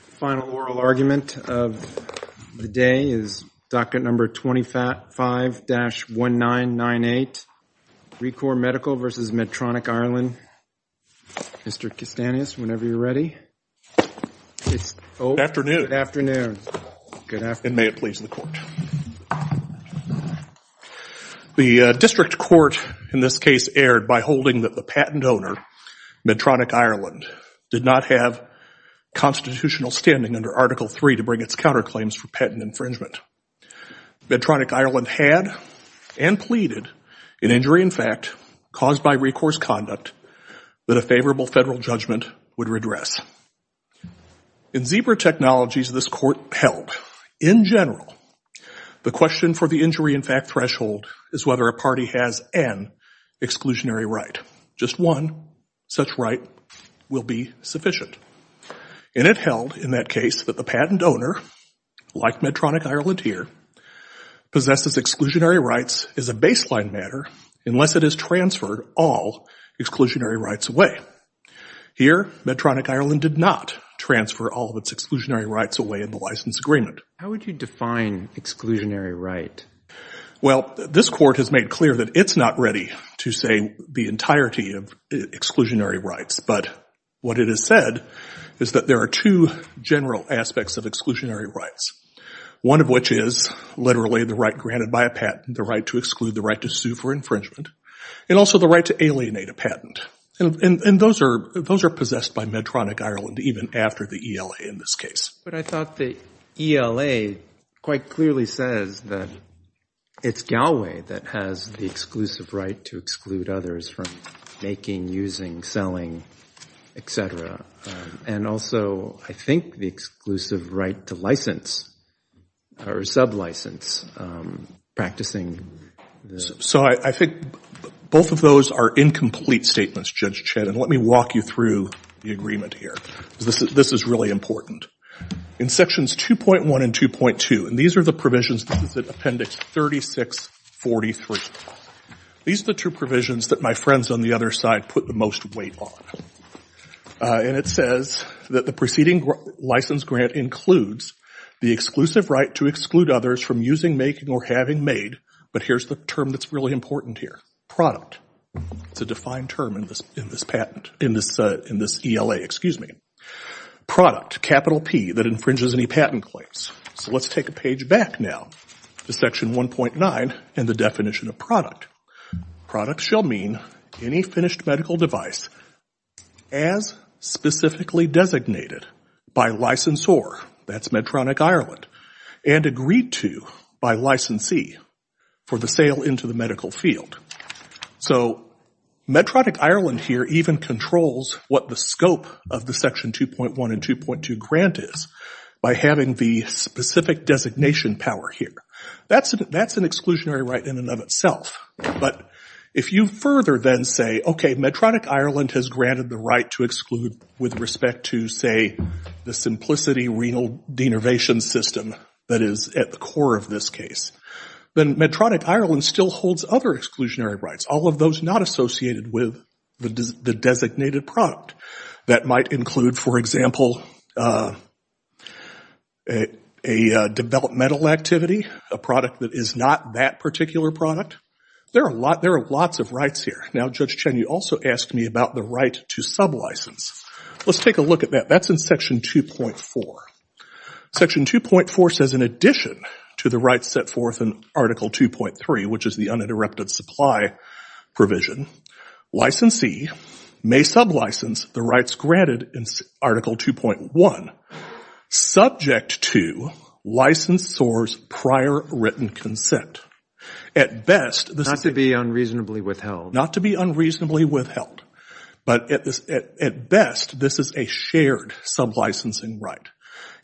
Final oral argument of the day is docket number 25-1998, ReCor Medical v. Medtronic Ireland. Mr. Kastanis, whenever you're ready. Good afternoon. And may it please the Court. The district court in this case erred by holding that the patent owner, Medtronic Ireland, did not have constitutional standing under Article III to bring its counterclaims for patent infringement. Medtronic Ireland had and pleaded an injury in fact caused by recourse conduct that a favorable federal judgment would redress. In zebra technologies this court held, in general, the question for the injury in fact threshold is whether a party has an exclusionary right. Just one such right will be sufficient. And it held in that case that the patent owner, like Medtronic Ireland here, possesses exclusionary rights as a baseline matter unless it is transferred all exclusionary rights away. Here, Medtronic Ireland did not transfer all of its exclusionary rights away in the license agreement. How would you define exclusionary right? Well, this court has made clear that it's not ready to say the entirety of exclusionary rights. But what it has said is that there are two general aspects of exclusionary rights, one of which is literally the right granted by a patent, the right to exclude, the right to sue for infringement, and also the right to alienate a patent. And those are possessed by Medtronic Ireland even after the ELA in this case. But I thought the ELA quite clearly says that it's Galway that has the exclusive right to exclude others from making, using, selling, et cetera, and also I think the exclusive right to license or sub-license, practicing. So I think both of those are incomplete statements, Judge Chet, and let me walk you through the agreement here. This is really important. In Sections 2.1 and 2.2, and these are the provisions, this is in Appendix 3643, these are the two provisions that my friends on the other side put the most weight on. And it says that the preceding license grant includes the exclusive right to exclude others from using, making, or having made, but here's the term that's really important here, product. It's a defined term in this patent, in this ELA, excuse me. Product, capital P, that infringes any patent claims. So let's take a page back now to Section 1.9 and the definition of product. Product shall mean any finished medical device as specifically designated by licensor, that's Medtronic Ireland, and agreed to by licensee for the sale into the medical field. So Medtronic Ireland here even controls what the scope of the Section 2.1 and 2.2 grant is by having the specific designation power here. That's an exclusionary right in and of itself, but if you further then say, okay, Medtronic Ireland has granted the right to exclude with respect to, say, the simplicity renal denervation system that is at the core of this case, then Medtronic Ireland still holds other exclusionary rights, all of those not associated with the designated product. That might include, for example, a developmental activity, a product that is not that particular product. There are lots of rights here. Now, Judge Chen, you also asked me about the right to sublicense. Let's take a look at that. That's in Section 2.4. Section 2.4 says, in addition to the rights set forth in Article 2.3, which is the uninterrupted supply provision, licensee may sublicense the rights granted in Article 2.1, subject to licensor's prior written consent. At best, this is… Not to be unreasonably withheld. Not to be unreasonably withheld, but at best, this is a shared sublicensing right.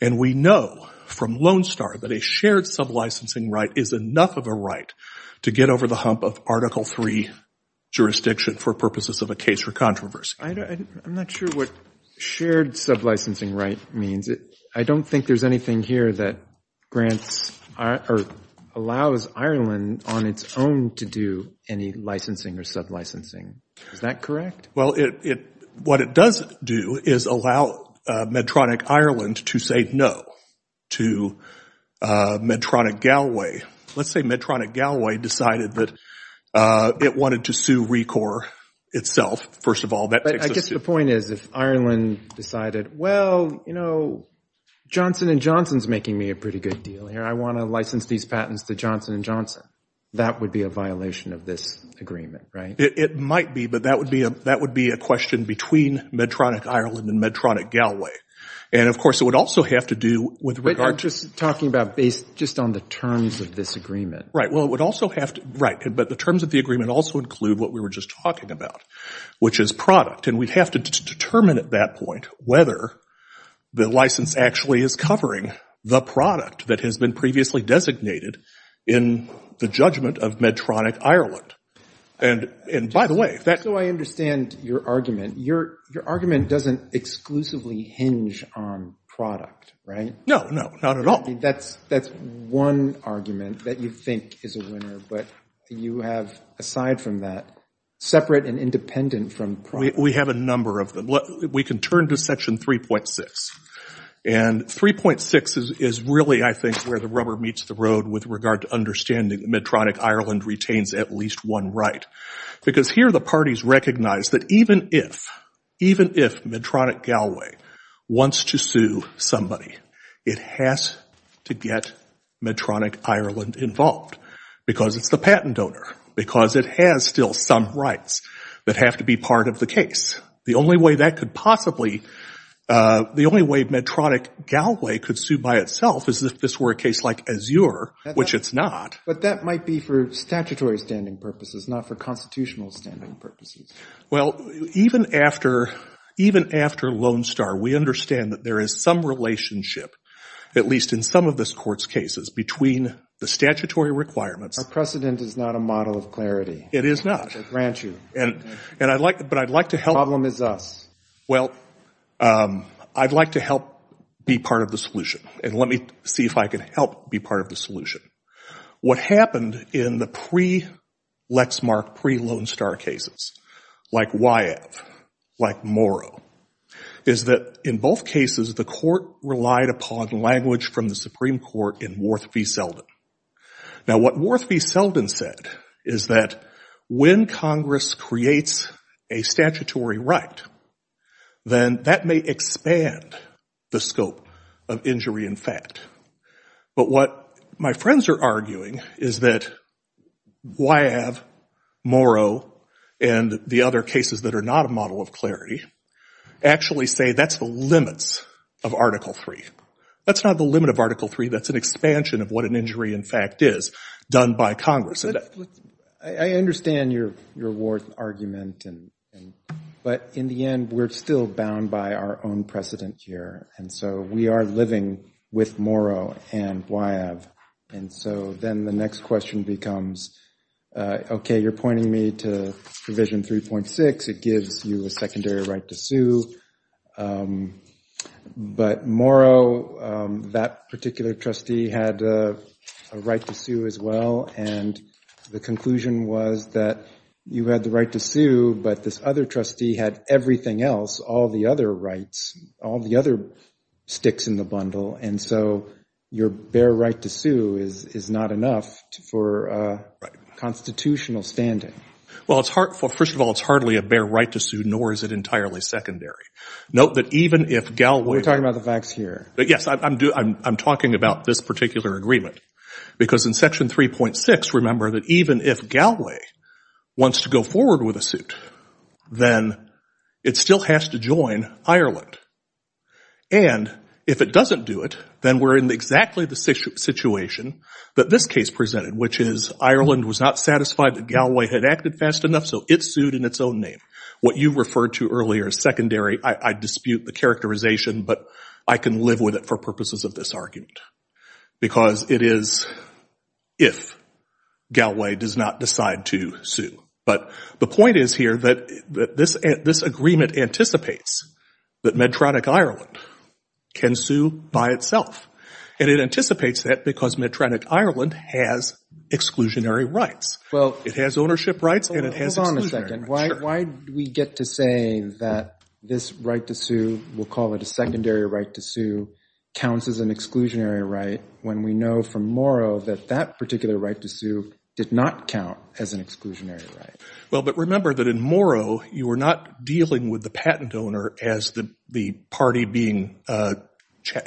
And we know from Lone Star that a shared sublicensing right is enough of a right to get over the hump of Article 3 jurisdiction for purposes of a case or controversy. I'm not sure what shared sublicensing right means. I don't think there's anything here that grants or allows Ireland on its own to do any licensing or sublicensing. Is that correct? Well, what it does do is allow Medtronic Ireland to say no to Medtronic Galway. Let's say Medtronic Galway decided that it wanted to sue RECOR itself. First of all, that takes us to… But I guess the point is, if Ireland decided, well, you know, Johnson & Johnson is making me a pretty good deal here. I want to license these patents to Johnson & Johnson. That would be a violation of this agreement, right? It might be, but that would be a question between Medtronic Ireland and Medtronic Galway. And, of course, it would also have to do with regard to… But you're just talking about based just on the terms of this agreement. Right. Well, it would also have to – right. But the terms of the agreement also include what we were just talking about, which is product. And we'd have to determine at that point whether the license actually is covering the product that has been previously designated in the judgment of Medtronic Ireland. And, by the way… So I understand your argument. Your argument doesn't exclusively hinge on product, right? No, no, not at all. That's one argument that you think is a winner. But you have, aside from that, separate and independent from product. We have a number of them. We can turn to Section 3.6. And 3.6 is really, I think, where the rubber meets the road with regard to understanding that Medtronic Ireland retains at least one right. Because here the parties recognize that even if Medtronic Galway wants to sue somebody, it has to get Medtronic Ireland involved. Because it's the patent donor. Because it has still some rights that have to be part of the case. The only way Medtronic Galway could sue by itself is if this were a case like Azure, which it's not. But that might be for statutory standing purposes, not for constitutional standing purposes. Well, even after Lone Star, we understand that there is some relationship, at least in some of this Court's cases, between the statutory requirements… Our precedent is not a model of clarity. It is not. I grant you. But I'd like to help… The problem is us. Well, I'd like to help be part of the solution. And let me see if I can help be part of the solution. What happened in the pre-Lexmark, pre-Lone Star cases, like Wyeth, like Morrow, is that in both cases the Court relied upon language from the Supreme Court in Worth v. Selden. Now, what Worth v. Selden said is that when Congress creates a statutory right, then that may expand the scope of injury in fact. But what my friends are arguing is that Wyeth, Morrow, and the other cases that are not a model of clarity actually say that's the limits of Article III. That's not the limit of Article III. That's an expansion of what an injury in fact is done by Congress. I understand your Worth argument. But in the end, we're still bound by our own precedent here. And so we are living with Morrow and Wyeth. And so then the next question becomes, okay, you're pointing me to Provision 3.6. It gives you a secondary right to sue. But Morrow, that particular trustee, had a right to sue as well. And the conclusion was that you had the right to sue, but this other trustee had everything else, all the other rights, all the other sticks in the bundle. And so your bare right to sue is not enough for constitutional standing. Well, first of all, it's hardly a bare right to sue, nor is it entirely secondary. Note that even if Galway ---- We're talking about the facts here. Yes, I'm talking about this particular agreement. Because in Section 3.6, remember that even if Galway wants to go forward with a suit, then it still has to join Ireland. And if it doesn't do it, then we're in exactly the situation that this case presented, which is Ireland was not satisfied that Galway had acted fast enough, so it sued in its own name. What you referred to earlier as secondary, I dispute the characterization, but I can live with it for purposes of this argument. Because it is if Galway does not decide to sue. But the point is here that this agreement anticipates that Medtronic Ireland can sue by itself. And it anticipates that because Medtronic Ireland has exclusionary rights. It has ownership rights and it has exclusionary rights. Hold on a second. Why do we get to say that this right to sue, we'll call it a secondary right to sue, counts as an exclusionary right when we know from Moro that that particular right to sue did not count as an exclusionary right? Well, but remember that in Moro you were not dealing with the patent owner as the party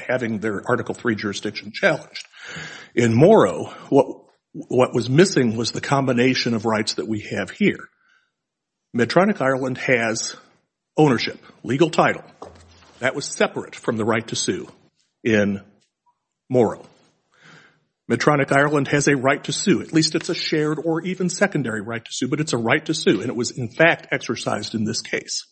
having their Article 3 jurisdiction challenged. In Moro, what was missing was the combination of rights that we have here. Medtronic Ireland has ownership, legal title. That was separate from the right to sue in Moro. Medtronic Ireland has a right to sue. At least it's a shared or even secondary right to sue, but it's a right to sue. And it was in fact exercised in this case.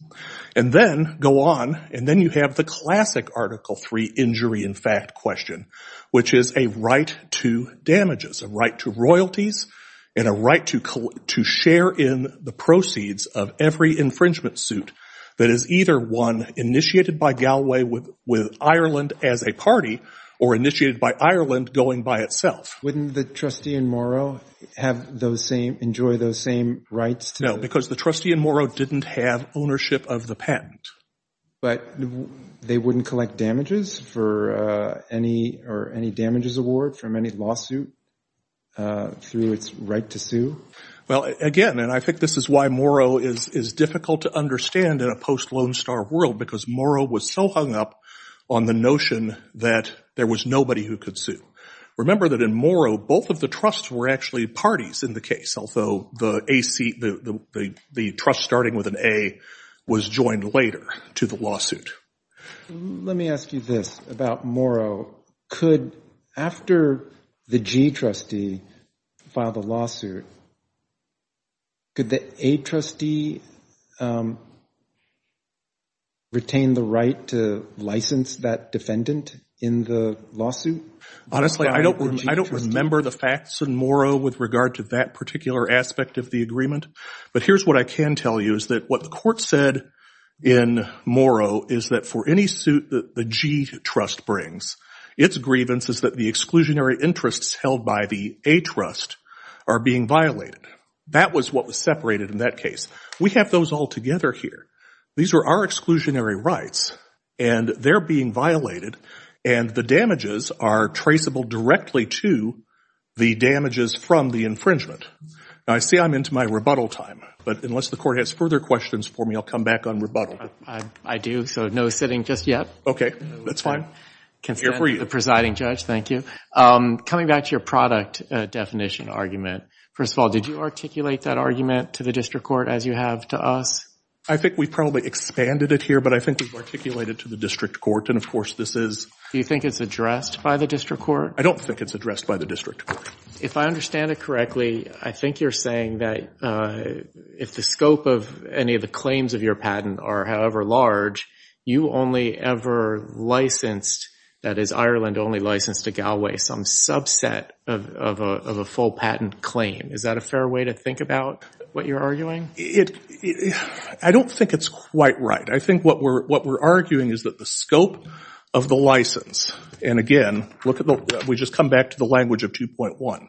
And then go on and then you have the classic Article 3 injury in fact question, which is a right to damages, a right to royalties, and a right to share in the proceeds of every infringement suit that is either one initiated by Galway with Ireland as a party or initiated by Ireland going by itself. Wouldn't the trustee in Moro have those same, enjoy those same rights? No, because the trustee in Moro didn't have ownership of the patent. But they wouldn't collect damages for any or any damages award from any lawsuit through its right to sue? Well, again, and I think this is why Moro is difficult to understand in a post-Lone Star world because Moro was so hung up on the notion that there was nobody who could sue. Remember that in Moro, both of the trusts were actually parties in the case, although the trust starting with an A was joined later to the lawsuit. Let me ask you this about Moro. Could after the G trustee filed the lawsuit, could the A trustee retain the right to license that defendant in the lawsuit? Honestly, I don't remember the facts in Moro with regard to that particular aspect of the agreement. But here's what I can tell you is that what the court said in Moro is that for any suit that the G trust brings, its grievance is that the exclusionary interests held by the A trust are being violated. That was what was separated in that case. We have those all together here. These are our exclusionary rights and they're being violated and the damages are traceable directly to the damages from the infringement. Now, I see I'm into my rebuttal time, but unless the court has further questions for me, I'll come back on rebuttal. I do, so no sitting just yet. Okay, that's fine. The presiding judge, thank you. Coming back to your product definition argument, first of all, did you articulate that argument to the district court as you have to us? I think we probably expanded it here, but I think we've articulated it to the district court and, of course, this is. Do you think it's addressed by the district court? I don't think it's addressed by the district court. If I understand it correctly, I think you're saying that if the scope of any of the claims of your patent are however large, you only ever licensed, that is Ireland only licensed to Galway, some subset of a full patent claim. Is that a fair way to think about what you're arguing? I don't think it's quite right. I think what we're arguing is that the scope of the license, and again, we just come back to the language of 2.1.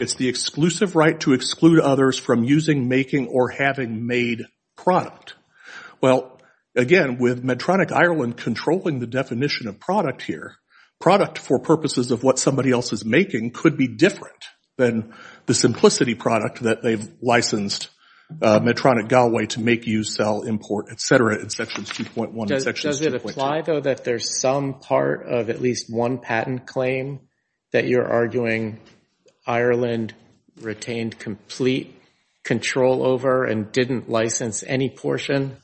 It's the exclusive right to exclude others from using, making, or having made product. Well, again, with Medtronic Ireland controlling the definition of product here, product for purposes of what somebody else is making could be different than the simplicity product that they've licensed Medtronic Galway to make, use, sell, import, et cetera, in sections 2.1 and 2.2. Does it apply, though, that there's some part of at least one patent claim that you're arguing Ireland retained complete control over and didn't license any portion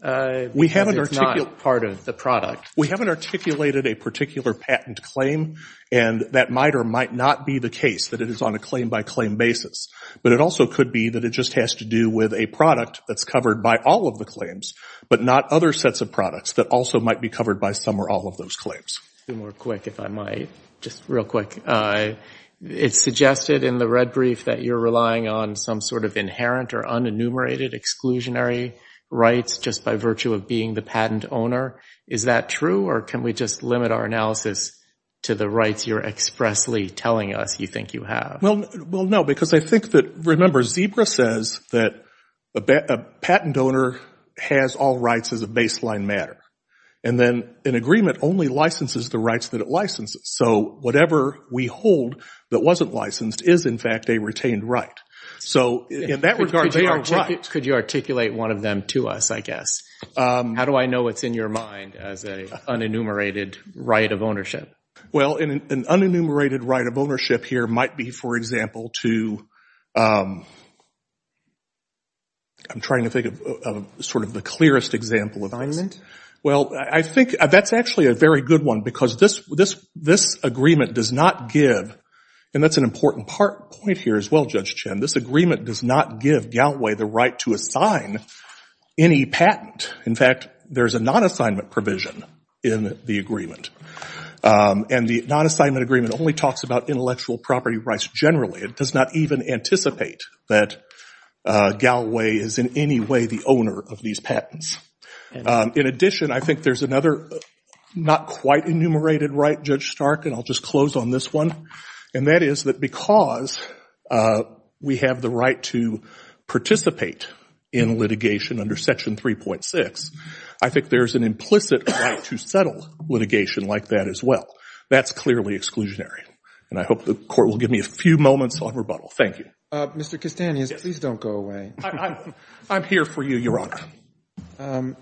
because it's not part of the product? We haven't articulated a particular patent claim, and that might or might not be the case, that it is on a claim-by-claim basis. But it also could be that it just has to do with a product that's covered by all of the claims, but not other sets of products that also might be covered by some or all of those claims. Two more quick, if I might, just real quick. It's suggested in the red brief that you're relying on some sort of inherent or unenumerated exclusionary rights just by virtue of being the patent owner. Is that true, or can we just limit our analysis to the rights you're expressly telling us you think you have? Well, no, because I think that, remember, Zebra says that a patent owner has all rights as a baseline matter, and then an agreement only licenses the rights that it licenses. So whatever we hold that wasn't licensed is, in fact, a retained right. So in that regard, they are right. Could you articulate one of them to us, I guess? How do I know what's in your mind as an unenumerated right of ownership? Well, an unenumerated right of ownership here might be, for example, to I'm trying to think of sort of the clearest example of this. Well, I think that's actually a very good one, because this agreement does not give, and that's an important point here as well, Judge Chin, this agreement does not give Galway the right to assign any patent. In fact, there's a non-assignment provision in the agreement, and the non-assignment agreement only talks about intellectual property rights generally. It does not even anticipate that Galway is in any way the owner of these patents. In addition, I think there's another not quite enumerated right, Judge Stark, and I'll just close on this one, and that is that because we have the right to participate in litigation under Section 3.6, I think there's an implicit right to settle litigation like that as well. That's clearly exclusionary, and I hope the Court will give me a few moments of rebuttal. Thank you. Mr. Castanhas, please don't go away. I'm here for you, Your Honor.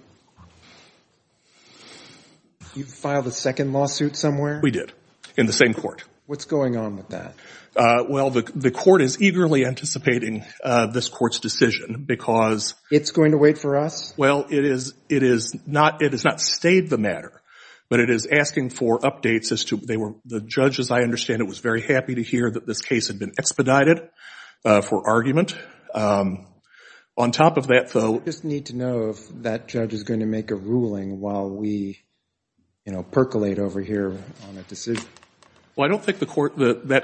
You filed a second lawsuit somewhere? We did, in the same court. What's going on with that? Well, the Court is eagerly anticipating this Court's decision because It's going to wait for us? Well, it has not stayed the matter, but it is asking for updates. The judge, as I understand it, was very happy to hear that this case had been expedited for argument. On top of that, though, We just need to know if that judge is going to make a ruling while we percolate over here on a decision. Well, I don't think that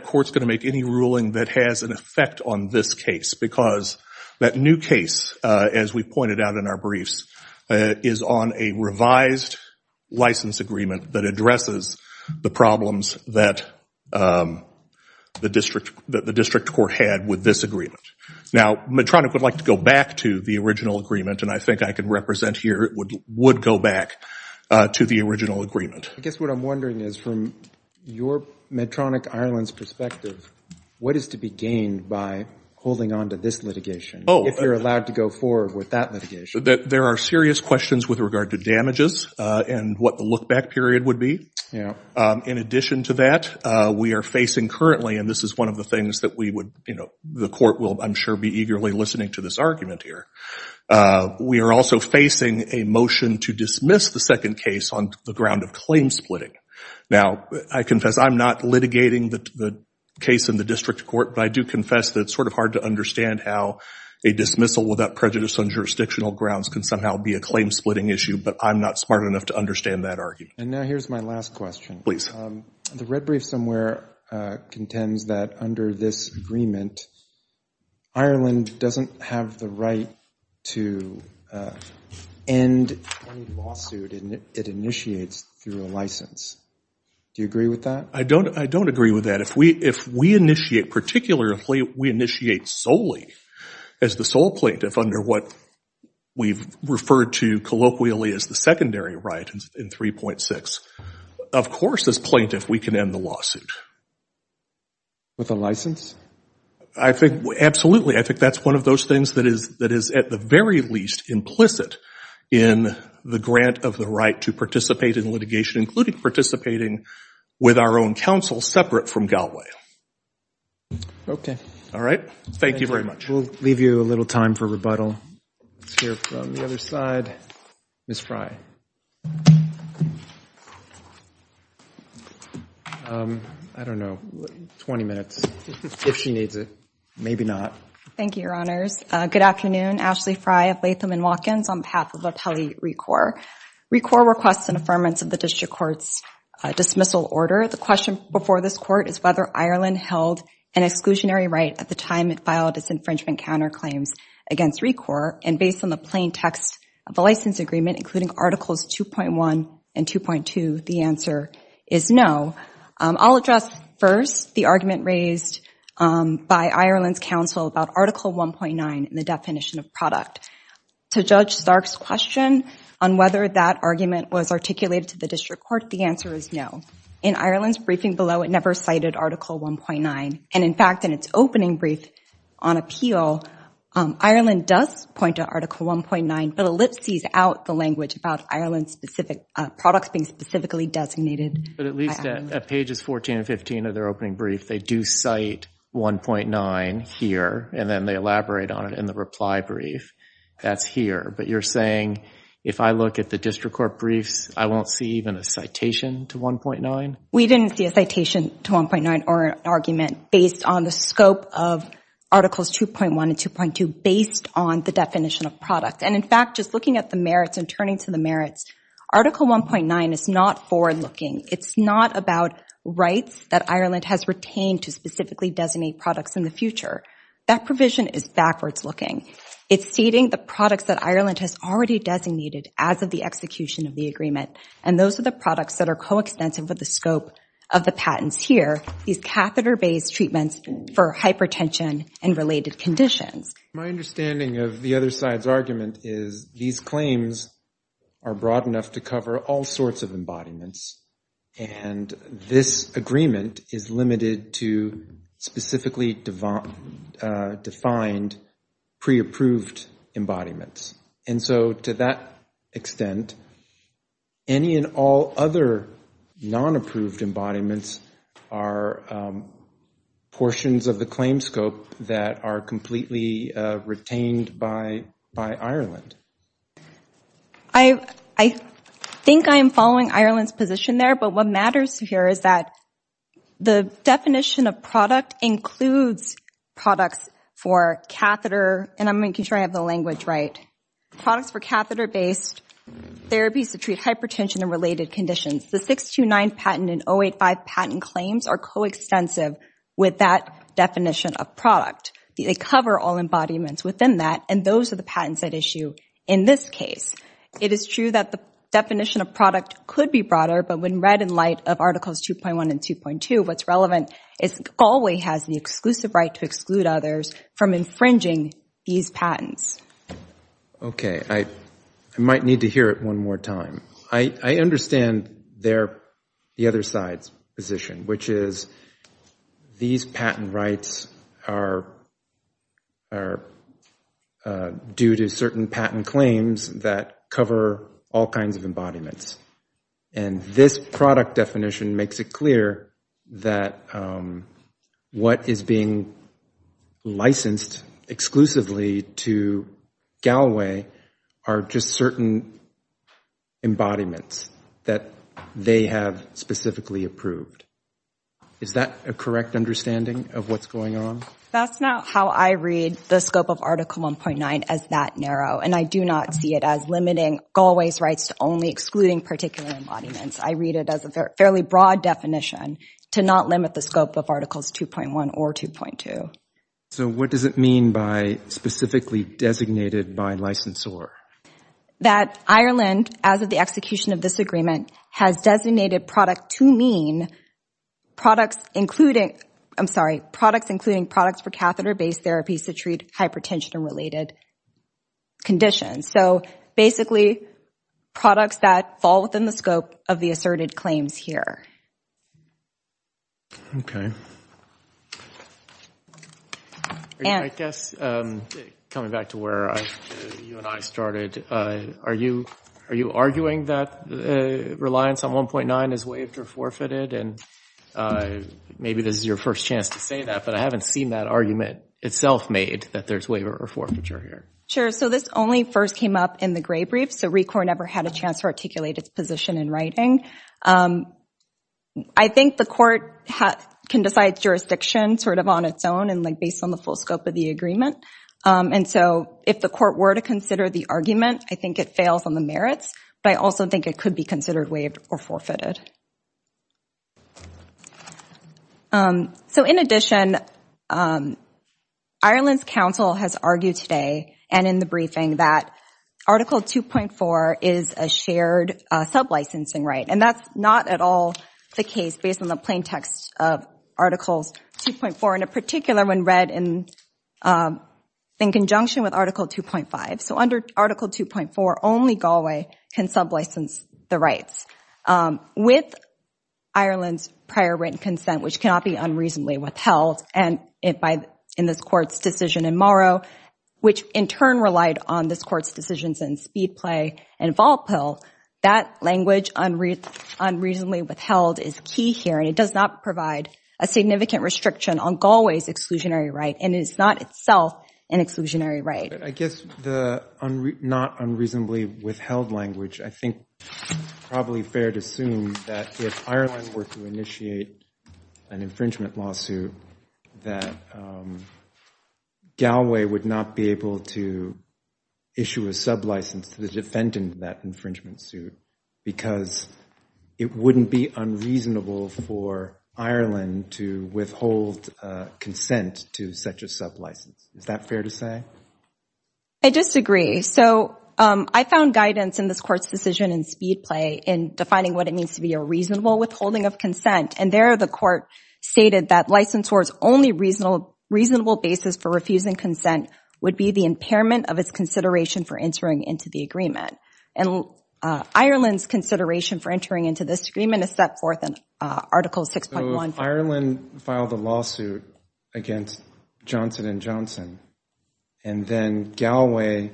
court is going to make any ruling that has an effect on this case because that new case, as we pointed out in our briefs, is on a revised license agreement that addresses the problems that the district court had with this agreement. Now, Medtronic would like to go back to the original agreement, and I think I can represent here it would go back to the original agreement. I guess what I'm wondering is, from your Medtronic Ireland's perspective, what is to be gained by holding on to this litigation if you're allowed to go forward with that litigation? There are serious questions with regard to damages and what the look-back period would be. In addition to that, we are facing currently, and this is one of the things that we would, you know, the Court will, I'm sure, be eagerly listening to this argument here. We are also facing a motion to dismiss the second case on the ground of claim splitting. Now, I confess I'm not litigating the case in the district court, but I do confess that it's sort of hard to understand how a dismissal without prejudice on jurisdictional grounds can somehow be a claim splitting issue, but I'm not smart enough to understand that argument. And now here's my last question. The red brief somewhere contends that under this agreement, Ireland doesn't have the right to end any lawsuit it initiates through a license. Do you agree with that? I don't agree with that. If we initiate, particularly if we initiate solely as the sole plaintiff under what we've referred to colloquially as the secondary right in 3.6, of course, as plaintiff, we can end the lawsuit. With a license? Absolutely. I think that's one of those things that is at the very least implicit in the grant of the right to participate in litigation, including participating with our own counsel separate from Galway. Okay. All right. Thank you very much. We'll leave you a little time for rebuttal. Let's hear from the other side. Ms. Frey. Okay. I don't know. 20 minutes. If she needs it. Maybe not. Thank you, Your Honors. Good afternoon. Ashley Frey of Latham & Watkins on behalf of the Appellee ReCore. ReCore requests an affirmance of the district court's dismissal order. The question before this court is whether Ireland held an exclusionary right at the time it filed its infringement counterclaims against ReCore. And based on the plain text of the license agreement, including Articles 2.1 and 2.2, the answer is no. I'll address first the argument raised by Ireland's counsel about Article 1.9 and the definition of product. To Judge Stark's question on whether that argument was articulated to the district court, the answer is no. In Ireland's briefing below, it never cited Article 1.9. And in fact, in its opening brief on appeal, Ireland does point to Article 1.9, but ellipses out the language about Ireland's specific products being specifically designated. But at least at pages 14 and 15 of their opening brief, they do cite 1.9 here and then they elaborate on it in the reply brief. That's here. But you're saying if I look at the district court briefs, I won't see even a citation to 1.9? We didn't see a citation to 1.9 or an argument based on the scope of Articles 2.1 and 2.2 based on the definition of product. And in fact, just looking at the merits and turning to the merits, Article 1.9 is not forward-looking. It's not about rights that Ireland has retained to specifically designate products in the future. That provision is backwards-looking. It's stating the products that Ireland has already designated as of the execution of the agreement. And those are the products that are coextensive with the scope of the patents here, these catheter-based treatments for hypertension and related conditions. My understanding of the other side's argument is these claims are broad enough to cover all sorts of embodiments. And this agreement is limited to specifically defined pre-approved embodiments. And so to that extent, any and all other non-approved embodiments are portions of the claim scope that are completely retained by Ireland. I think I am following Ireland's position there, but what matters here is that the definition of product includes products for catheter, and I'm making sure I have the language right, products for catheter-based therapies to treat hypertension and related conditions. The 629 patent and 085 patent claims are coextensive with that definition of product. They cover all embodiments within that, and those are the patents at issue in this case. It is true that the definition of product could be broader, but when read in light of Articles 2.1 and 2.2, what's relevant is Galway has the exclusive right to exclude others from infringing these patents. Okay. I might need to hear it one more time. I understand the other side's position, which is these patent rights are due to certain patent claims that cover all kinds of embodiments. And this product definition makes it clear that what is being licensed exclusively to Galway are just certain embodiments that they have specifically approved. Is that a correct understanding of what's going on? That's not how I read the scope of Article 1.9 as that narrow, and I do not see it as limiting Galway's rights to only excluding particular embodiments. I read it as a fairly broad definition to not limit the scope of Articles 2.1 or 2.2. So what does it mean by specifically designated by licensor? That Ireland, as of the execution of this agreement, has designated product to mean products including, I'm sorry, products including products for catheter-based therapies to treat hypertension-related conditions. So basically products that fall within the scope of the asserted claims here. Okay. I guess coming back to where you and I started, are you arguing that reliance on 1.9 is waived or forfeited? And maybe this is your first chance to say that, but I haven't seen that argument itself made that there's waiver or forfeiture here. Sure. So this only first came up in the Gray Brief, so RECOR never had a chance to articulate its position in writing. I think the court can decide jurisdiction sort of on its own and based on the full scope of the agreement. And so if the court were to consider the argument, I think it fails on the merits, but I also think it could be considered waived or forfeited. So in addition, Ireland's council has argued today and in the briefing that Article 2.4 is a shared sub-licensing right, and that's not at all the case based on the plain text of Articles 2.4, and in particular when read in conjunction with Article 2.5. So under Article 2.4, only Galway can sub-license the rights. With Ireland's prior written consent, which cannot be unreasonably withheld, and in this court's decision in Morrow, which in turn relied on this court's decisions in Speedplay and Volpil, that language unreasonably withheld is key here, and it does not provide a significant restriction on Galway's exclusionary right, and it is not itself an exclusionary right. I guess the not unreasonably withheld language, I think it's probably fair to assume that if Ireland were to initiate an infringement lawsuit, that Galway would not be able to issue a sub-license to the defendant in that infringement suit because it wouldn't be unreasonable for Ireland to withhold consent to such a sub-license. Is that fair to say? I disagree. So I found guidance in this court's decision in Speedplay in defining what it means to be a reasonable withholding of consent, and there the court stated that licensors' only reasonable basis for refusing consent would be the impairment of its consideration for entering into the agreement. And Ireland's consideration for entering into this agreement is set forth in Article 6.1. So if Ireland filed a lawsuit against Johnson & Johnson, and then Galway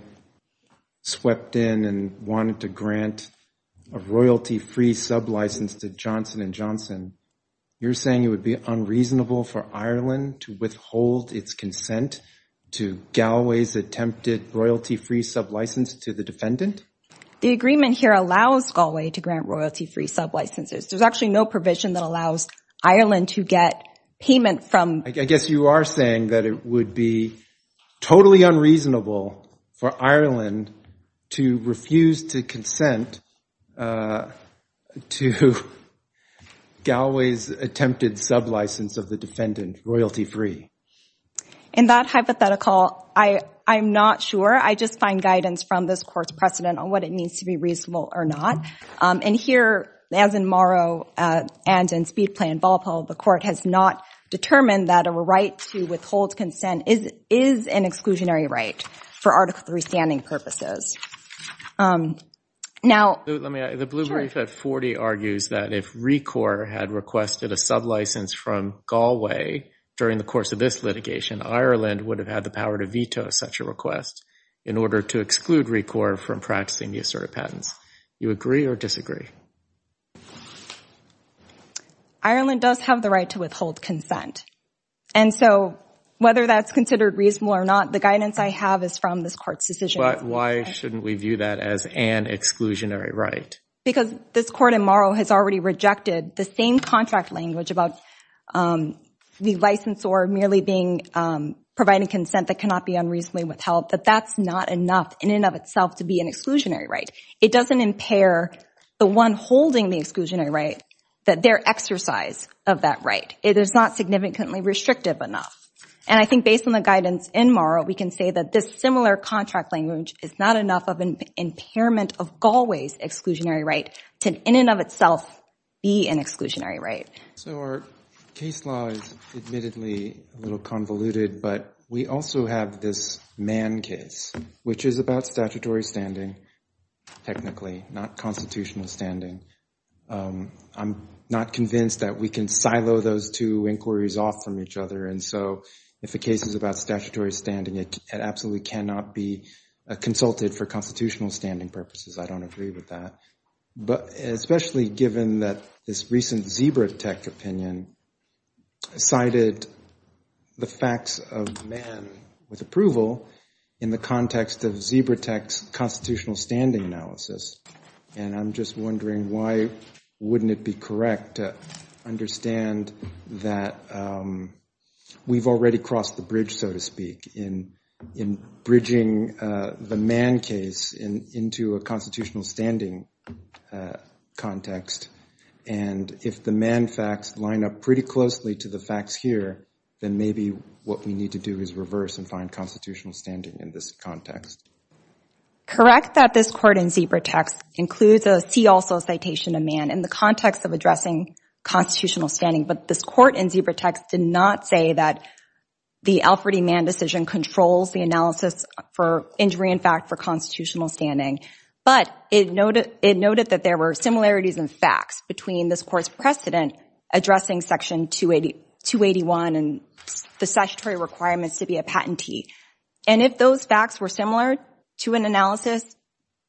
swept in and wanted to grant a royalty-free sub-license to Johnson & Johnson, you're saying it would be unreasonable for Ireland to withhold its consent to Galway's attempted royalty-free sub-license to the defendant? The agreement here allows Galway to grant royalty-free sub-licenses. There's actually no provision that allows Ireland to get payment from— I guess you are saying that it would be totally unreasonable for Ireland to refuse to consent to Galway's attempted sub-license of the defendant royalty-free. In that hypothetical, I'm not sure. I just find guidance from this court's precedent on what it means to be reasonable or not. And here, as in Morrow and in Speedplay and Valpo, the court has not determined that a right to withhold consent is an exclusionary right for Article 3 standing purposes. Now— The Blue Brief at 40 argues that if RECOR had requested a sub-license from Galway during the course of this litigation, Ireland would have had the power to veto such a request in order to exclude RECOR from practicing the asserted patents. Do you agree or disagree? Ireland does have the right to withhold consent. And so whether that's considered reasonable or not, the guidance I have is from this court's decision. But why shouldn't we view that as an exclusionary right? Because this court in Morrow has already rejected the same contract language about the licensor merely being—providing consent that cannot be unreasonably withheld, that that's not enough in and of itself to be an exclusionary right. It doesn't impair the one holding the exclusionary right, that their exercise of that right. It is not significantly restrictive enough. And I think based on the guidance in Morrow, we can say that this similar contract language is not enough of an impairment of Galway's exclusionary right to, in and of itself, be an exclusionary right. So our case law is admittedly a little convoluted, but we also have this Mann case, which is about statutory standing technically, not constitutional standing. I'm not convinced that we can silo those two inquiries off from each other. And so if a case is about statutory standing, it absolutely cannot be consulted for constitutional standing purposes. I don't agree with that. But especially given that this recent Zebratech opinion cited the facts of Mann with approval in the context of Zebratech's constitutional standing analysis, and I'm just wondering why wouldn't it be correct to understand that we've already crossed the bridge, so to speak, in bridging the Mann case into a constitutional standing context. And if the Mann facts line up pretty closely to the facts here, then maybe what we need to do is reverse and find constitutional standing in this context. Correct that this court in Zebratech's includes a C also citation of Mann in the context of addressing constitutional standing. But this court in Zebratech's did not say that the Alfred E. Mann decision controls the analysis for injury in fact for constitutional standing. But it noted that there were similarities in facts between this court's and the statutory requirements to be a patentee. And if those facts were similar to an analysis,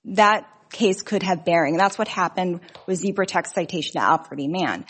that case could have bearing. And that's what happened with Zebratech's citation to Alfred E. Mann.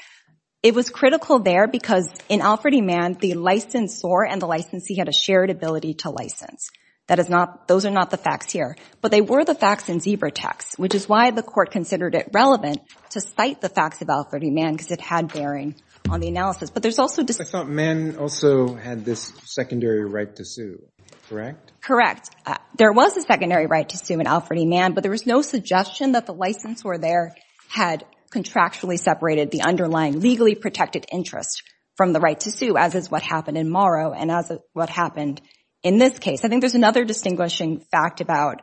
It was critical there because in Alfred E. Mann, the licensor and the licensee had a shared ability to license. Those are not the facts here. But they were the facts in Zebratech's, which is why the court considered it relevant to cite the facts of Alfred E. Mann because it had bearing on the analysis. But there's also dis- I thought Mann also had this secondary right to sue, correct? Correct. There was a secondary right to sue in Alfred E. but there was no suggestion that the licensor there had contractually separated the underlying legally protected interest from the right to sue, as is what happened in Morrow and as what happened in this case. I think there's another distinguishing fact about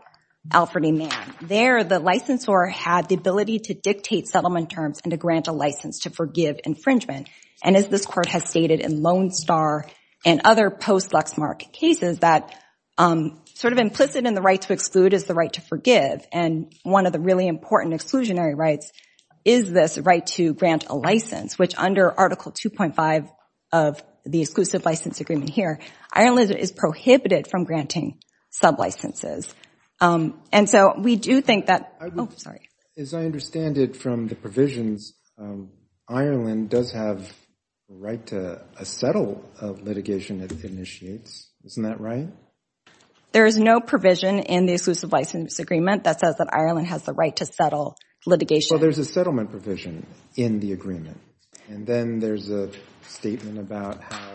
Alfred E. There, the licensor had the ability to dictate settlement terms and to grant a license to forgive infringement. And as this court has stated in Lone Star and other post-Lexmark cases, that sort of implicit in the right to exclude is the right to forgive. And one of the really important exclusionary rights is this right to grant a license, which under Article 2.5 of the Exclusive License Agreement here, Iron Lizard is prohibited from granting sub-licenses. And so we do think that- Oh, sorry. As I understand it from the provisions, Ireland does have the right to settle litigation it initiates. Isn't that right? There is no provision in the Exclusive License Agreement that says that Ireland has the right to settle litigation. Well, there's a settlement provision in the agreement. And then there's a statement about how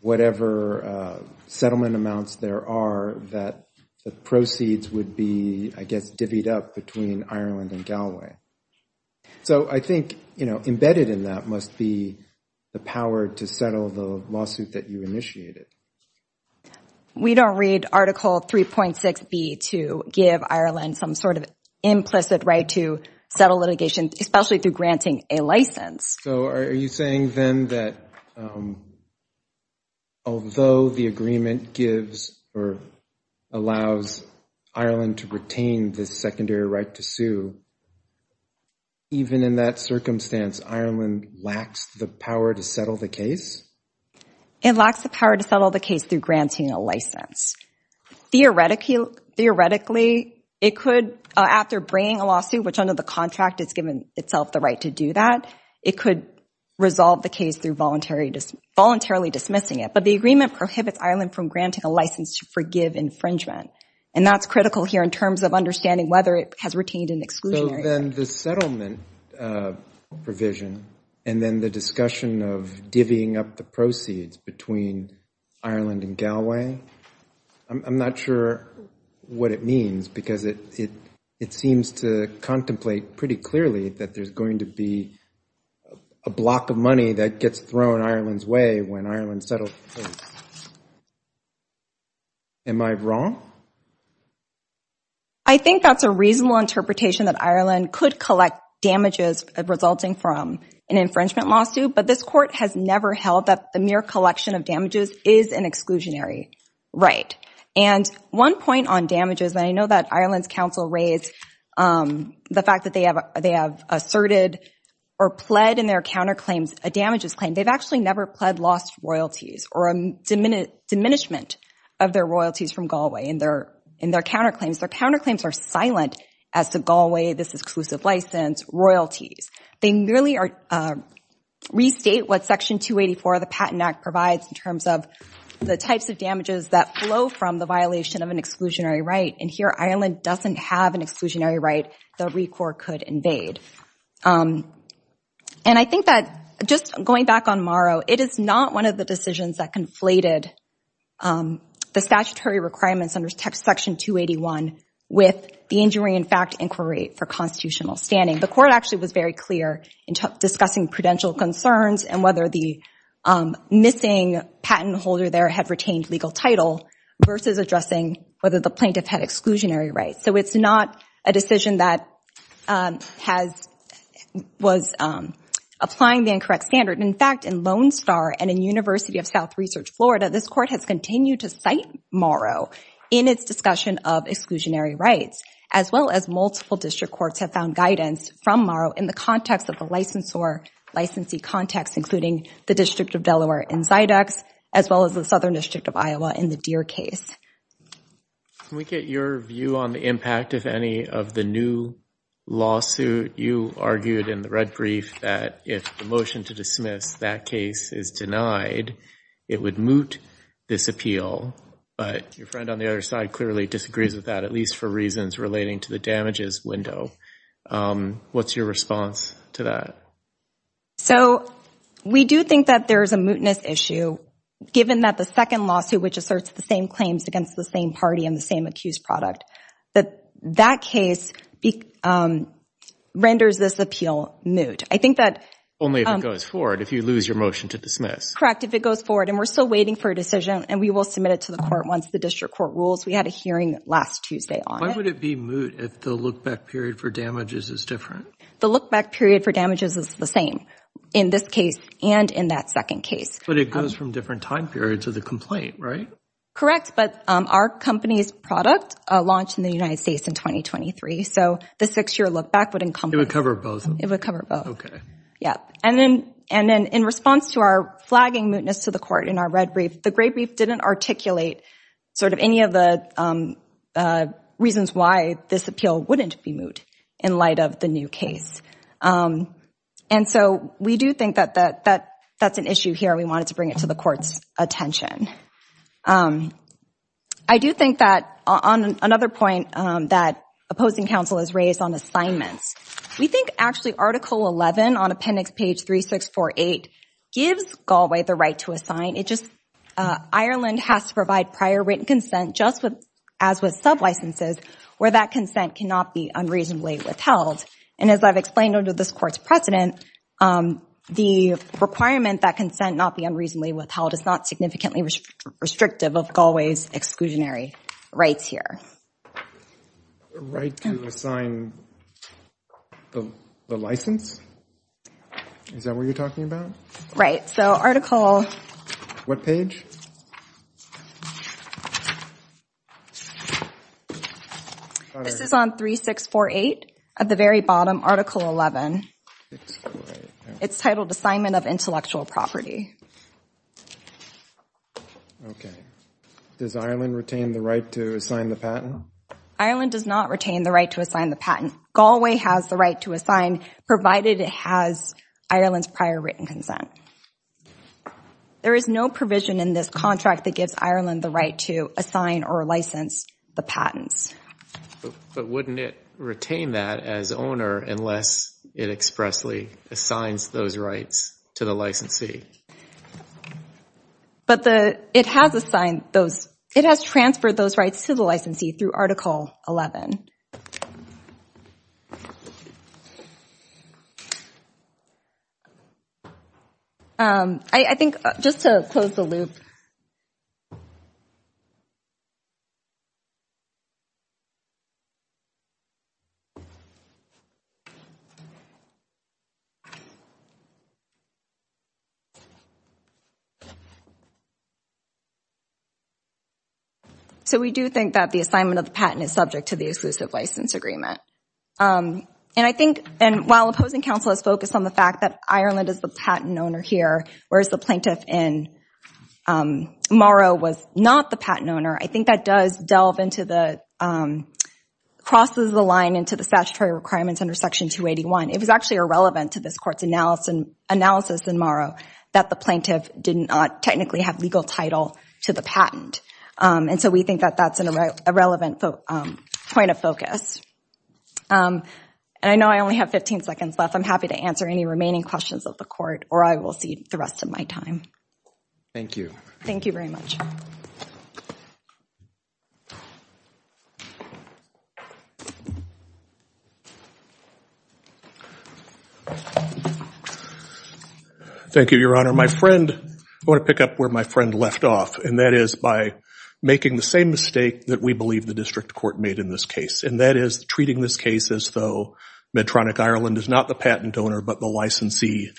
whatever settlement amounts there are that the proceeds would be, I guess, divvied up between Ireland and Galway. So I think, you know, embedded in that must be the power to settle the lawsuit that you initiated. We don't read Article 3.6B to give Ireland some sort of implicit right to settle litigation, especially through granting a license. So are you saying then that, although the agreement gives or allows Ireland to retain this secondary right to sue, even in that circumstance, Ireland lacks the power to settle the case? It lacks the power to settle the case through granting a license. Theoretically, it could, after bringing a lawsuit, which under the contract it's given itself the right to do that, it could resolve the case through voluntarily dismissing it. But the agreement prohibits Ireland from granting a license to forgive infringement. And that's critical here in terms of understanding whether it has retained an exclusionary right. So then the settlement provision and then the discussion of divvying up the proceeds between Ireland and Galway, I'm not sure what it means because it seems to contemplate pretty clearly that there's going to be a block of money that gets thrown Ireland's way when Ireland settles the case. Am I wrong? I think that's a reasonable interpretation that Ireland could collect damages resulting from an infringement lawsuit, but this court has never held that a mere collection of damages is an exclusionary right. And one point on damages, and I know that Ireland's counsel raised the fact that they have a asserted or pled in their counterclaims, a damages claim. They've actually never pled lost royalties or a diminishment of their royalties from Galway in their counterclaims. Their counterclaims are silent as to Galway, this exclusive license, royalties. They merely restate what Section 284 of the Patent Act provides in terms of the types of damages that flow from the violation of an exclusionary right. And here Ireland doesn't have an exclusionary right that RECOR could invade. And I think that just going back on Morrow, it is not one of the decisions that conflated the statutory requirements under Section 281 with the injury in fact inquiry for constitutional standing. The court actually was very clear in discussing prudential concerns and whether the missing patent holder there had retained legal title versus addressing whether the plaintiff had exclusionary rights. So it's not a decision that was applying the incorrect standard. In fact, in Lone Star and in University of South Research Florida, this court has continued to cite Morrow in its discussion of exclusionary rights as well as multiple district courts have found guidance from Morrow in the context of the licensee context including the District of Delaware in Zydex as well as the Southern District of Iowa in the Deer case. Can we get your view on the impact, if any, of the new lawsuit? You argued in the red brief that if the motion to dismiss that case is denied, it would moot this appeal. But your friend on the other side clearly disagrees with that, at least for reasons relating to the damages window. What's your response to that? So we do think that there is a mootness issue, given that the second lawsuit, which asserts the same claims against the same party and the same accused product, that that case renders this appeal moot. Only if it goes forward, if you lose your motion to dismiss. Correct, if it goes forward. And we're still waiting for a decision, and we will submit it to the court once the district court rules. We had a hearing last Tuesday on it. Why would it be moot if the look-back period for damages is different? The look-back period for damages is the same in this case and in that second case. But it goes from different time periods of the complaint, right? Correct. But our company's product launched in the United States in 2023. So the six-year look-back would encompass. It would cover both. It would cover both. Yeah. And then in response to our flagging mootness to the court in our red brief, the gray brief didn't articulate sort of any of the reasons why this appeal wouldn't be moot in light of the new case. And so we do think that that's an issue here. We wanted to bring it to the court's attention. I do think that on another point that opposing counsel has raised on assignments, we think actually Article 11 on Appendix Page 3648 gives Galway the right to Ireland has to provide prior written consent just as with sub-licenses where that consent cannot be unreasonably withheld. And as I've explained under this court's precedent, the requirement that consent not be unreasonably withheld is not significantly restrictive of Galway's exclusionary rights here. A right to assign the license? Is that what you're talking about? Right. So Article. What page? This is on 3648 at the very bottom, Article 11. It's titled Assignment of Intellectual Property. Okay. Does Ireland retain the right to assign the patent? Ireland does not retain the right to assign the patent. Galway has the right to assign, provided it has Ireland's prior written consent. There is no provision in this contract that gives Ireland the right to assign or license the patents. But wouldn't it retain that as owner unless it expressly assigns those rights to the licensee? But it has assigned those, it has transferred those rights to the licensee through Article 11. I think just to close the loop. So we do think that the assignment of the patent is subject to the exclusive license agreement. And I think, and while opposing counsel has focused on the fact that Ireland is the patent owner here, whereas the plaintiff in Morrow was not the patent owner, I think that does delve into the, crosses the line into the statutory requirements under Section 281. It was actually irrelevant to this court's analysis in Morrow that the plaintiff did not technically have legal title to the patent. And so we think that that's an irrelevant point of focus. And I know I only have 15 seconds left. I'm happy to answer any remaining questions of the court, or I will see the rest of my time. Thank you. Thank you very much. Thank you, Your Honor. My friend, I want to pick up where my friend left off, and that is by making the same mistake that we believe the district court made in this case. And that is treating this case as though Medtronic Ireland is not the patent owner, but the licensee,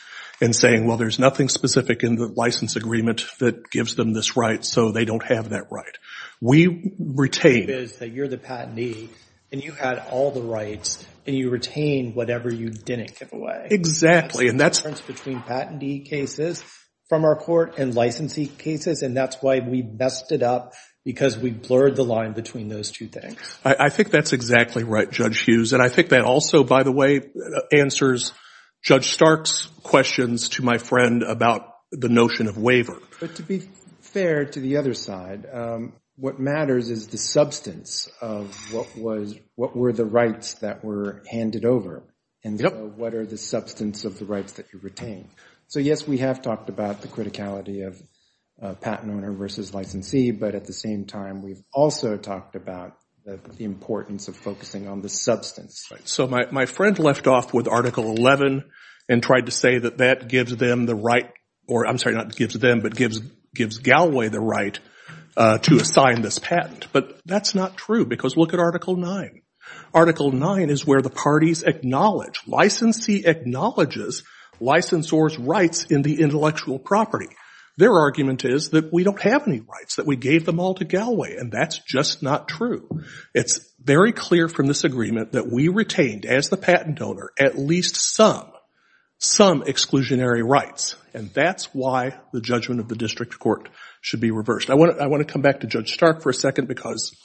and saying, well, there's nothing specific in the license agreement that gives them this right, so they don't have that right. We retain... The difference is that you're the patentee, and you had all the rights, and you retain whatever you didn't give away. Exactly, and that's... There's a difference between patentee cases from our court and licensee cases, and that's why we messed it up, because we blurred the line between those two things. I think that's exactly right, Judge Hughes, and I think that also, by the way, answers Judge Stark's questions to my friend about the notion of waiver. But to be fair to the other side, what matters is the substance of what was... What were the rights that were handed over, and what are the substance of the rights that you retain? So, yes, we have talked about the criticality of patent owner versus licensee, but at the same time, we've also talked about the importance of focusing on the substance. So my friend left off with Article 11 and tried to say that that gives them the right, or I'm sorry, not gives them, but gives Galloway the right to assign this patent. But that's not true, because look at Article 9. Article 9 is where the parties acknowledge. Licensee acknowledges licensor's rights in the intellectual property. Their argument is that we don't have any rights, that we gave them all to Galloway, and that's just not true. It's very clear from this agreement that we retained, as the patent owner, at least some, some exclusionary rights, and that's why the judgment of the district court should be reversed. I want to come back to Judge Stark for a second, because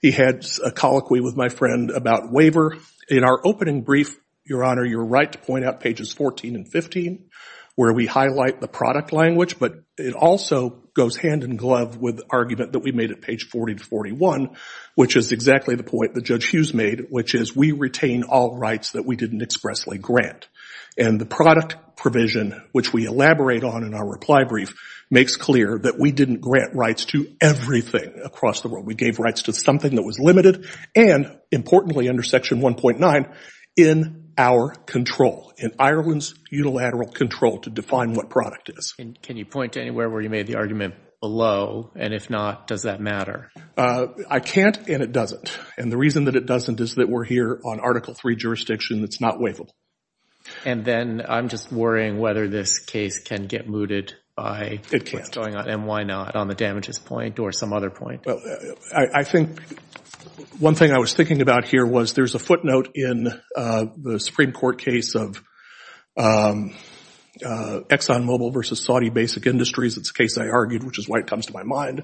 he had a colloquy with my friend about waiver. In our opening brief, Your Honor, you're right to point out pages 14 and 15, where we highlight the product language, but it also goes hand in glove with the argument that we made at page 40 to 41, which is exactly the point that Judge Hughes made, which is we retain all rights that we didn't expressly grant. And the product provision, which we elaborate on in our reply brief, makes clear that we didn't grant rights to everything across the world. We gave rights to something that was limited, and importantly under Section 1.9, in our control, in Ireland's unilateral control to define what product is. And can you point to anywhere where you made the argument below, and if not, does that matter? I can't and it doesn't, and the reason that it doesn't is that we're here on Article III jurisdiction that's not waivable. And then I'm just worrying whether this case can get mooted by what's going on, and why not, on the damages point or some other point. Well, I think one thing I was thinking about here was there's a footnote in the Supreme Court case of ExxonMobil versus Saudi Basic Industries. It's a case I argued, which is why it comes to my mind,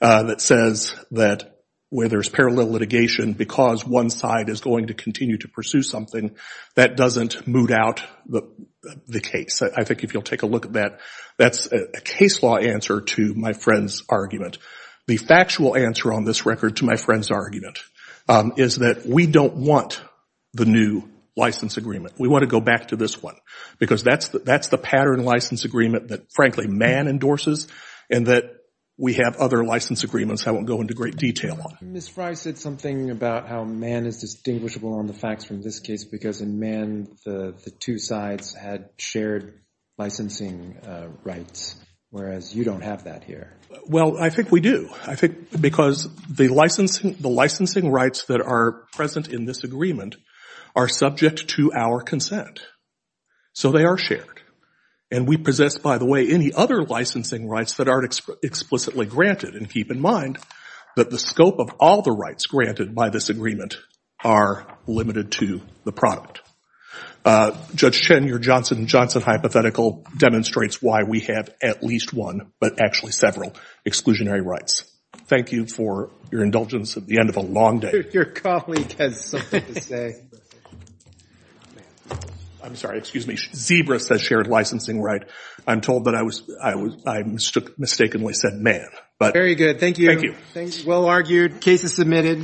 that says that where there's parallel litigation because one side is going to continue to pursue something, that doesn't moot out the case. I think if you'll take a look at that, that's a case law answer to my friend's argument. The factual answer on this record to my friend's argument is that we don't want the new license agreement. We want to go back to this one because that's the pattern license agreement that, frankly, Mann endorses and that we have other license agreements I won't go into great detail on. Ms. Fry said something about how Mann is distinguishable on the facts from this case because in Mann the two sides had shared licensing rights, whereas you don't have that here. Well, I think we do. I think because the licensing rights that are present in this agreement are subject to our consent, so they are shared. And we possess, by the way, any other licensing rights that aren't explicitly granted. And keep in mind that the scope of all the rights granted by this agreement are limited to the product. Judge Chen, your Johnson & Johnson hypothetical demonstrates why we have at least one, but actually several, exclusionary rights. Thank you for your indulgence at the end of a long day. Your colleague has something to say. I'm sorry. Excuse me. Zebra says shared licensing right. I'm told that I mistakenly said Mann. Very good. Thank you. Thank you. Well argued. Case is submitted.